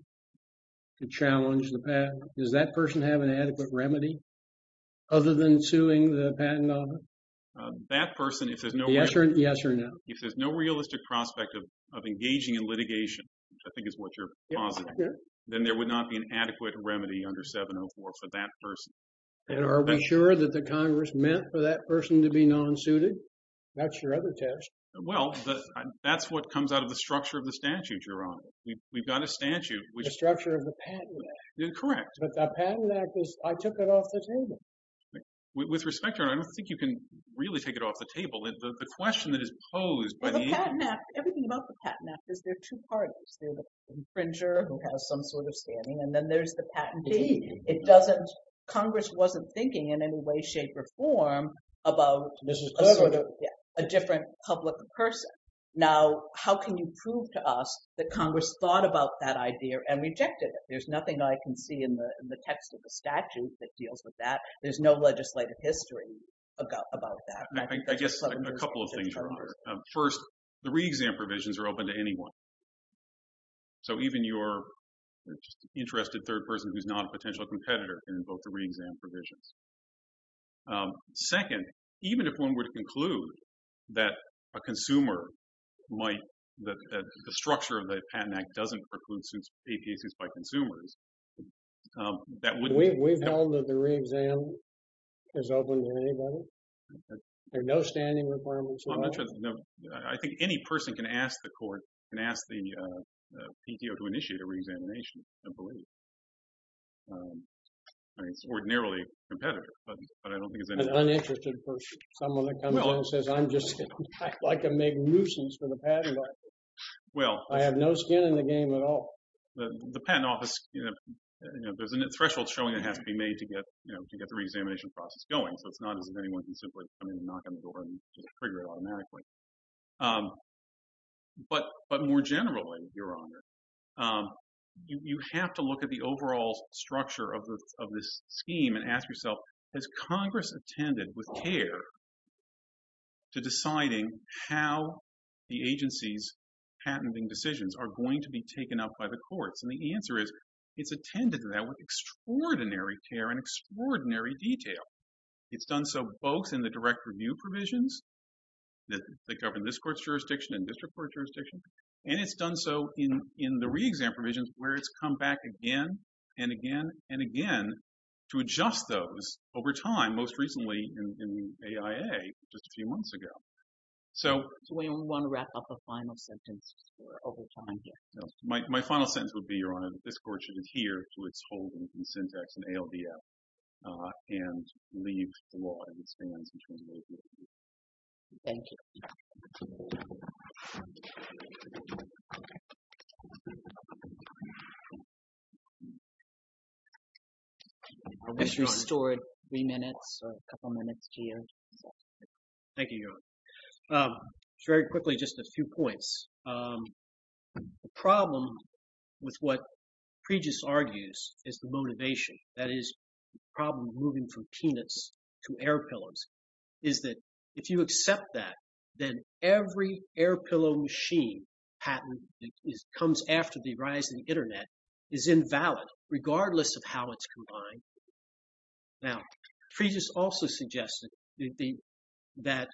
to challenge the patent, does that person have an adequate remedy other than suing the patent office? That person, if there's no – Yes or no? If there's no realistic prospect of engaging in litigation, which I think is what you're positing, then there would not be an adequate remedy under 704 for that person. And are we sure that the Congress meant for that person to be non-suited? That's your other test. Well, that's what comes out of the structure of the statute, Your Honor. We've got a statute which – The structure of the Patent Act. Correct. But the Patent Act is – I took it off the table. With respect, Your Honor, I don't think you can really take it off the table. The question that is posed by the – Well, the Patent Act, everything about the Patent Act is there are two parties. There's the infringer who has some sort of standing, and then there's the patentee. It doesn't – Congress wasn't thinking in any way, shape, or form about a different public person. Now, how can you prove to us that Congress thought about that idea and rejected it? There's nothing I can see in the text of the statute that deals with that. There's no legislative history about that. I guess a couple of things, Your Honor. First, the re-exam provisions are open to anyone. So even your interested third person who's not a potential competitor can invoke the re-exam provisions. Second, even if one were to conclude that a consumer might – that the structure of the Patent Act doesn't preclude APA suits by consumers, that wouldn't – We've held that the re-exam is open to anybody. There are no standing requirements at all. I think any person can ask the court, can ask the PTO to initiate a re-examination, I believe. I mean, it's ordinarily competitive, but I don't think it's any – An uninterested person, someone that comes in and says, I'm just like a magnusons for the Patent Office. I have no skin in the game at all. The Patent Office, there's a threshold showing it has to be made to get the re-examination process going. So it's not as if anyone can simply come in and knock on the door and trigger it automatically. But more generally, Your Honor, you have to look at the overall structure of this scheme and ask yourself, has Congress attended with care to deciding how the agency's patenting decisions are going to be taken up by the courts? And the answer is it's attended to that with extraordinary care and extraordinary detail. It's done so both in the direct review provisions that govern this court's jurisdiction and district court's jurisdiction, and it's done so in the re-exam provisions where it's come back again and again and again to adjust those over time, most recently in the AIA just a few months ago. So we want to wrap up a final sentence for over time here. My final sentence would be, Your Honor, that this court should adhere to its holdings in syntax and ALDF and leave the law as it stands in terms of what it will do. Thank you. I wish you stored three minutes or a couple minutes, Gio. Thank you, Your Honor. Very quickly, just a few points. The problem with what Pregis argues is the motivation, that is, the problem moving from peanuts to air pillows, is that if you accept that, then every air pillow machine patent that comes after the rise of the Internet is invalid, regardless of how it's combined. Now, Pregis also suggested that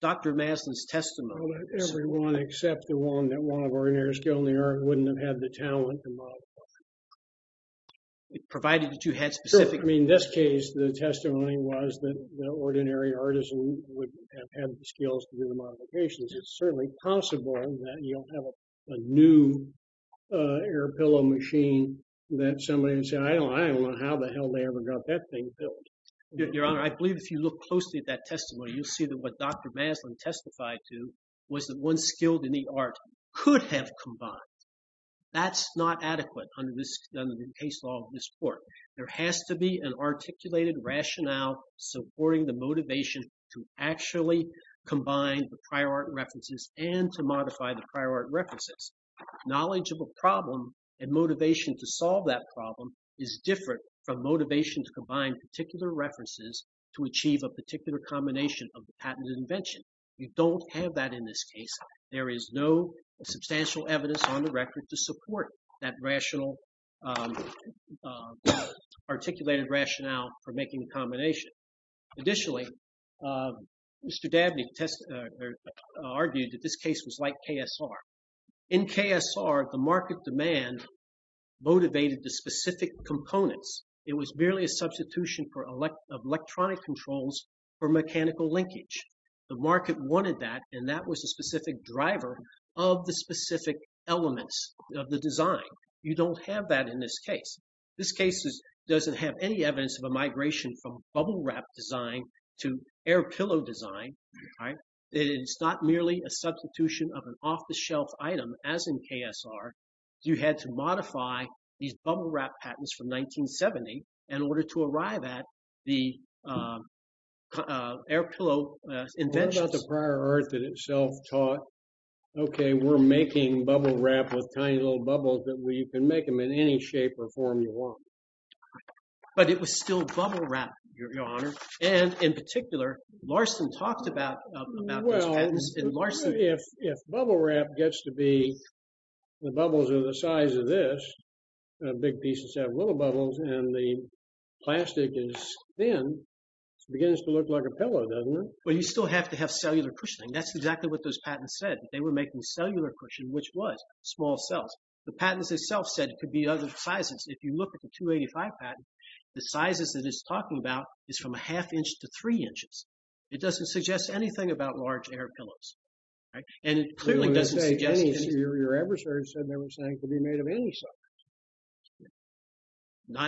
Dr. Maslin's testimony… Well, that everyone except the one that wanted ordinary skill in the art wouldn't have had the talent to modify. Provided that you had specific… Sure. I mean, in this case, the testimony was that the ordinary artisan wouldn't have had the skills to do the modifications. It's certainly possible that you'll have a new air pillow machine that somebody would say, I don't know how the hell they ever got that thing built. Your Honor, I believe if you look closely at that testimony, you'll see that what Dr. Maslin testified to was that one skilled in the art could have combined. That's not adequate under the case law of this Court. There has to be an articulated rationale supporting the motivation to actually combine the prior art references and to modify the prior art references. Knowledge of a problem and motivation to solve that problem is different from motivation to combine particular references to achieve a particular combination of the patented invention. You don't have that in this case. There is no substantial evidence on the record to support that rational… articulated rationale for making the combination. Additionally, Mr. Dabney argued that this case was like KSR. In KSR, the market demand motivated the specific components. It was merely a substitution of electronic controls for mechanical linkage. The market wanted that, and that was a specific driver of the specific elements of the design. You don't have that in this case. This case doesn't have any evidence of a migration from bubble wrap design to air pillow design. It's not merely a substitution of an off-the-shelf item, as in KSR. You had to modify these bubble wrap patents from 1970 in order to arrive at the air pillow inventions. What about the prior art that itself taught, Okay, we're making bubble wrap with tiny little bubbles, but you can make them in any shape or form you want. But it was still bubble wrap, Your Honor. And in particular, Larson talked about those patents, and Larson… Well, if bubble wrap gets to be… the bubbles are the size of this, big pieces have little bubbles, and the plastic is thin, it begins to look like a pillow, doesn't it? Well, you still have to have cellular cushioning. That's exactly what those patents said. They were making cellular cushion, which was small cells. The patents itself said it could be other sizes. If you look at the 285 patent, the sizes that it's talking about is from a half inch to three inches. It doesn't suggest anything about large air pillows, right? And it clearly doesn't suggest anything. Your adversary said they were saying it could be made of any size.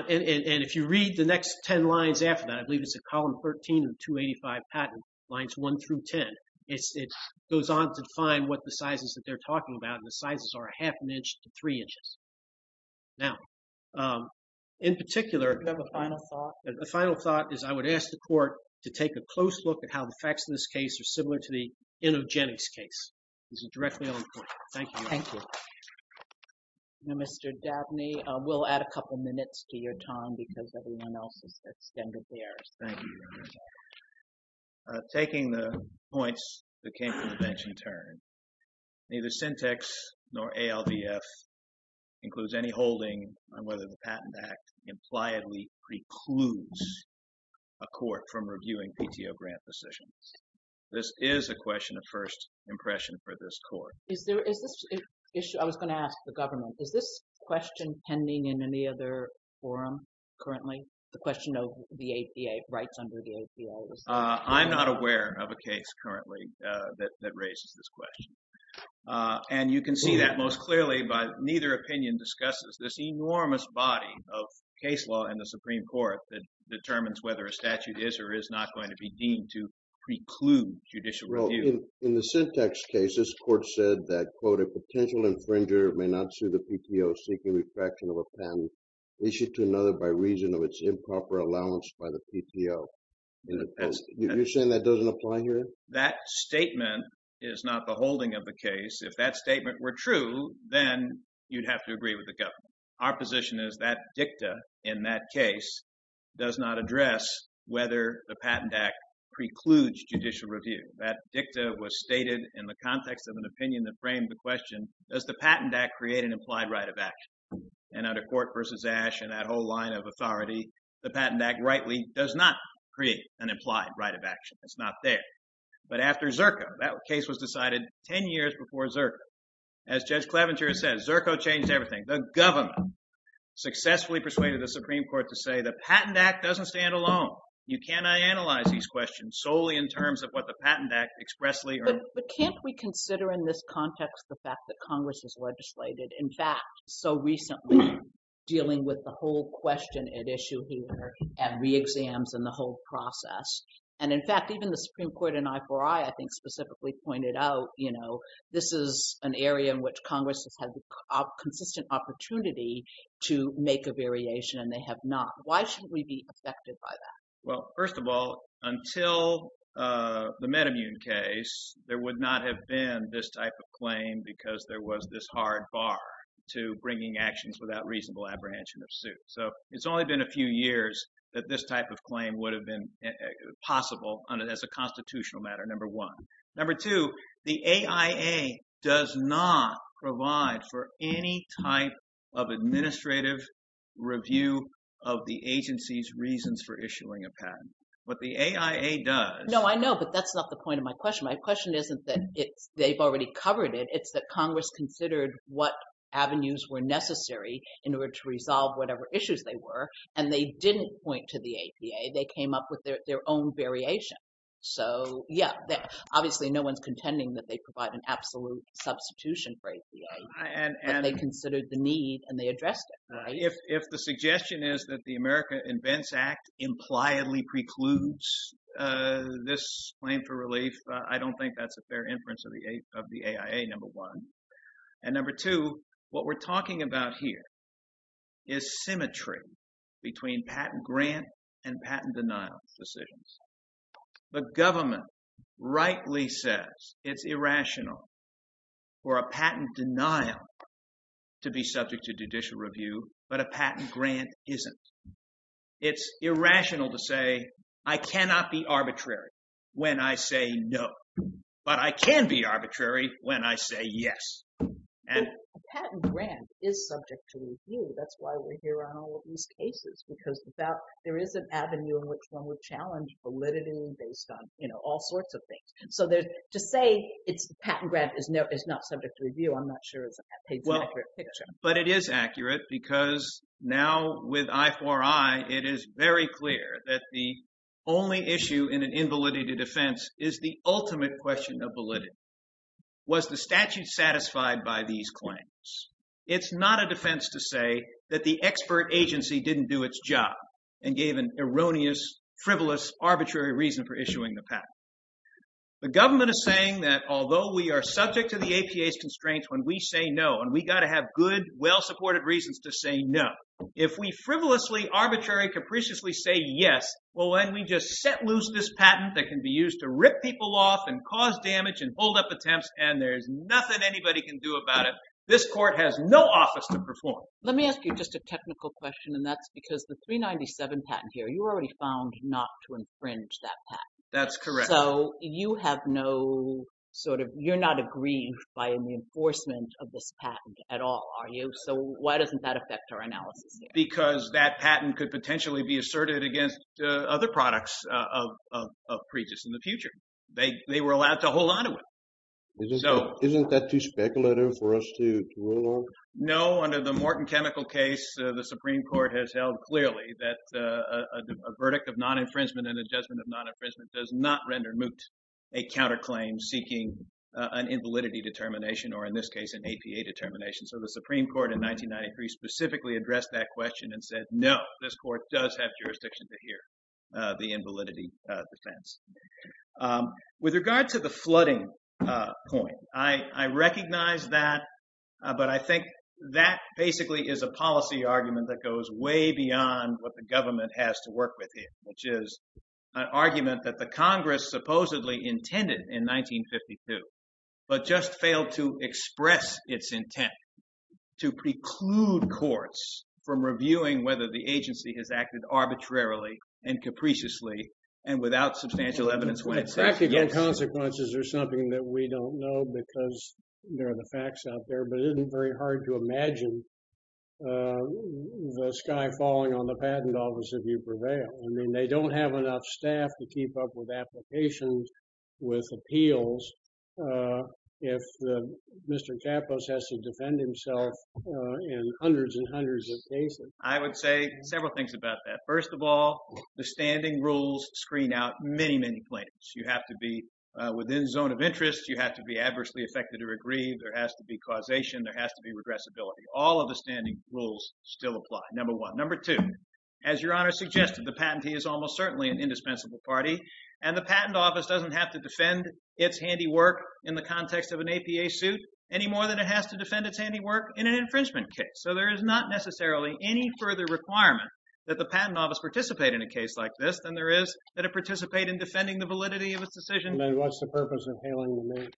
And if you read the next ten lines after that, I believe it's in column 13 of the 285 patent, lines 1 through 10. It goes on to define what the sizes that they're talking about, and the sizes are a half an inch to three inches. Now, in particular… Do you have a final thought? The final thought is I would ask the court to take a close look at how the facts in this case are similar to the InnoGenics case. This is directly on the court. Thank you, Your Honor. Thank you. Now, Mr. Dabney, we'll add a couple minutes to your time because everyone else has extended theirs. Thank you, Your Honor. Taking the points that came from the bench in turn, neither Syntex nor ALVF includes any holding on whether the Patent Act impliedly precludes a court from reviewing PTO grant decisions. This is a question of first impression for this court. I was going to ask the government. Is this question pending in any other forum currently? The question of the rights under the APO? I'm not aware of a case currently that raises this question. And you can see that most clearly, but neither opinion discusses this enormous body of case law in the Supreme Court that determines whether a statute is or is not going to be deemed to preclude judicial review. In the Syntex case, this court said that, quote, a potential infringer may not sue the PTO seeking retraction of a patent issued to another by reason of its improper allowance by the PTO. You're saying that doesn't apply here? That statement is not the holding of the case. If that statement were true, then you'd have to agree with the government. Our position is that dicta in that case does not address whether the Patent Act precludes judicial review. That dicta was stated in the context of an opinion that framed the question, does the Patent Act create an implied right of action? And under Court v. Ash and that whole line of authority, the Patent Act rightly does not create an implied right of action. It's not there. But after Zerko, that case was decided 10 years before Zerko. As Judge Cleventier said, Zerko changed everything. The government successfully persuaded the Supreme Court to say the Patent Act doesn't stand alone. You cannot analyze these questions solely in terms of what the Patent Act expressly or— But can't we consider in this context the fact that Congress has legislated, in fact, so recently dealing with the whole question at issue here and re-exams and the whole process? And, in fact, even the Supreme Court in I4I, I think, specifically pointed out, you know, this is an area in which Congress has had the consistent opportunity to make a variation, and they have not. Why shouldn't we be affected by that? Well, first of all, until the metamutant case, there would not have been this type of claim because there was this hard bar to bringing actions without reasonable apprehension of suit. So it's only been a few years that this type of claim would have been possible as a constitutional matter, number one. Number two, the AIA does not provide for any type of administrative review of the agency's reasons for issuing a patent. What the AIA does— No, I know, but that's not the point of my question. My question isn't that they've already covered it. It's that Congress considered what avenues were necessary in order to resolve whatever issues they were, and they didn't point to the APA. They came up with their own variation. So, yeah, obviously no one's contending that they provide an absolute substitution for APA, but they considered the need, and they addressed it, right? If the suggestion is that the America Invents Act impliedly precludes this claim for relief, I don't think that's a fair inference of the AIA, number one. And number two, what we're talking about here is symmetry between patent grant and patent denial decisions. The government rightly says it's irrational for a patent denial to be subject to judicial review, but a patent grant isn't. It's irrational to say, I cannot be arbitrary when I say no, but I can be arbitrary when I say yes. But a patent grant is subject to review. That's why we're here on all of these cases, because there is an avenue in which one would challenge validity based on all sorts of things. So to say a patent grant is not subject to review, I'm not sure is an accurate picture. But it is accurate, because now with I4I, it is very clear that the only issue in an invalidity defense is the ultimate question of validity. Was the statute satisfied by these claims? It's not a defense to say that the expert agency didn't do its job and gave an erroneous, frivolous, arbitrary reason for issuing the patent. The government is saying that although we are subject to the APA's constraints when we say no, and we got to have good, well-supported reasons to say no, if we frivolously, arbitrary, capriciously say yes, well, then we just set loose this patent that can be used to rip people off and cause damage and hold up attempts, and there's nothing anybody can do about it. This court has no office to perform. Let me ask you just a technical question, and that's because the 397 patent here, you already found not to infringe that patent. That's correct. So you have no sort of – you're not aggrieved by the enforcement of this patent at all, are you? So why doesn't that affect our analysis here? Because that patent could potentially be asserted against other products of Pregis in the future. They were allowed to hold onto it. Isn't that too speculative for us to rule on? No, under the Morton Chemical case, the Supreme Court has held clearly that a verdict of non-infringement and a judgment of non-infringement does not render moot a counterclaim seeking an invalidity determination, or in this case, an APA determination. So the Supreme Court in 1993 specifically addressed that question and said no, this court does have jurisdiction to hear the invalidity defense. With regard to the flooding point, I recognize that, but I think that basically is a policy argument that goes way beyond what the government has to work with here, which is an argument that the Congress supposedly intended in 1952 but just failed to express its intent to preclude courts from reviewing whether the agency has acted arbitrarily and capriciously and without substantial evidence when it says yes. Practical consequences are something that we don't know because there are the facts out there, but it isn't very hard to imagine the sky falling on the patent office if you prevail. I mean, they don't have enough staff to keep up with applications, with appeals, if Mr. Capos has to defend himself in hundreds and hundreds of cases. I would say several things about that. First of all, the standing rules screen out many, many claims. You have to be within zone of interest. You have to be adversely affected or aggrieved. There has to be causation. There has to be regressibility. All of the standing rules still apply, number one. Number two, as Your Honor suggested, the patentee is almost certainly an indispensable party, and the patent office doesn't have to defend its handiwork in the context of an APA suit any more than it has to defend its handiwork in an infringement case. So there is not necessarily any further requirement that the patent office participate in a case like this than there is that it participate in defending the validity of its decision. Then what's the purpose of hailing them in?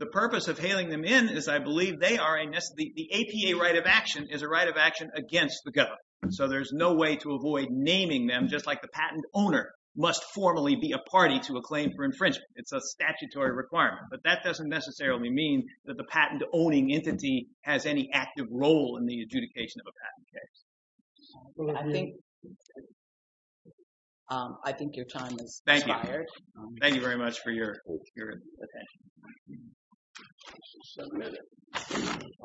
The purpose of hailing them in is I believe they are a necessary— the APA right of action is a right of action against the government, so there's no way to avoid naming them just like the patent owner must formally be a party to a claim for infringement. It's a statutory requirement, but that doesn't necessarily mean that the patent-owning entity has any active role in the adjudication of a patent case. I think your time has expired. Thank you. Thank you very much for your attention.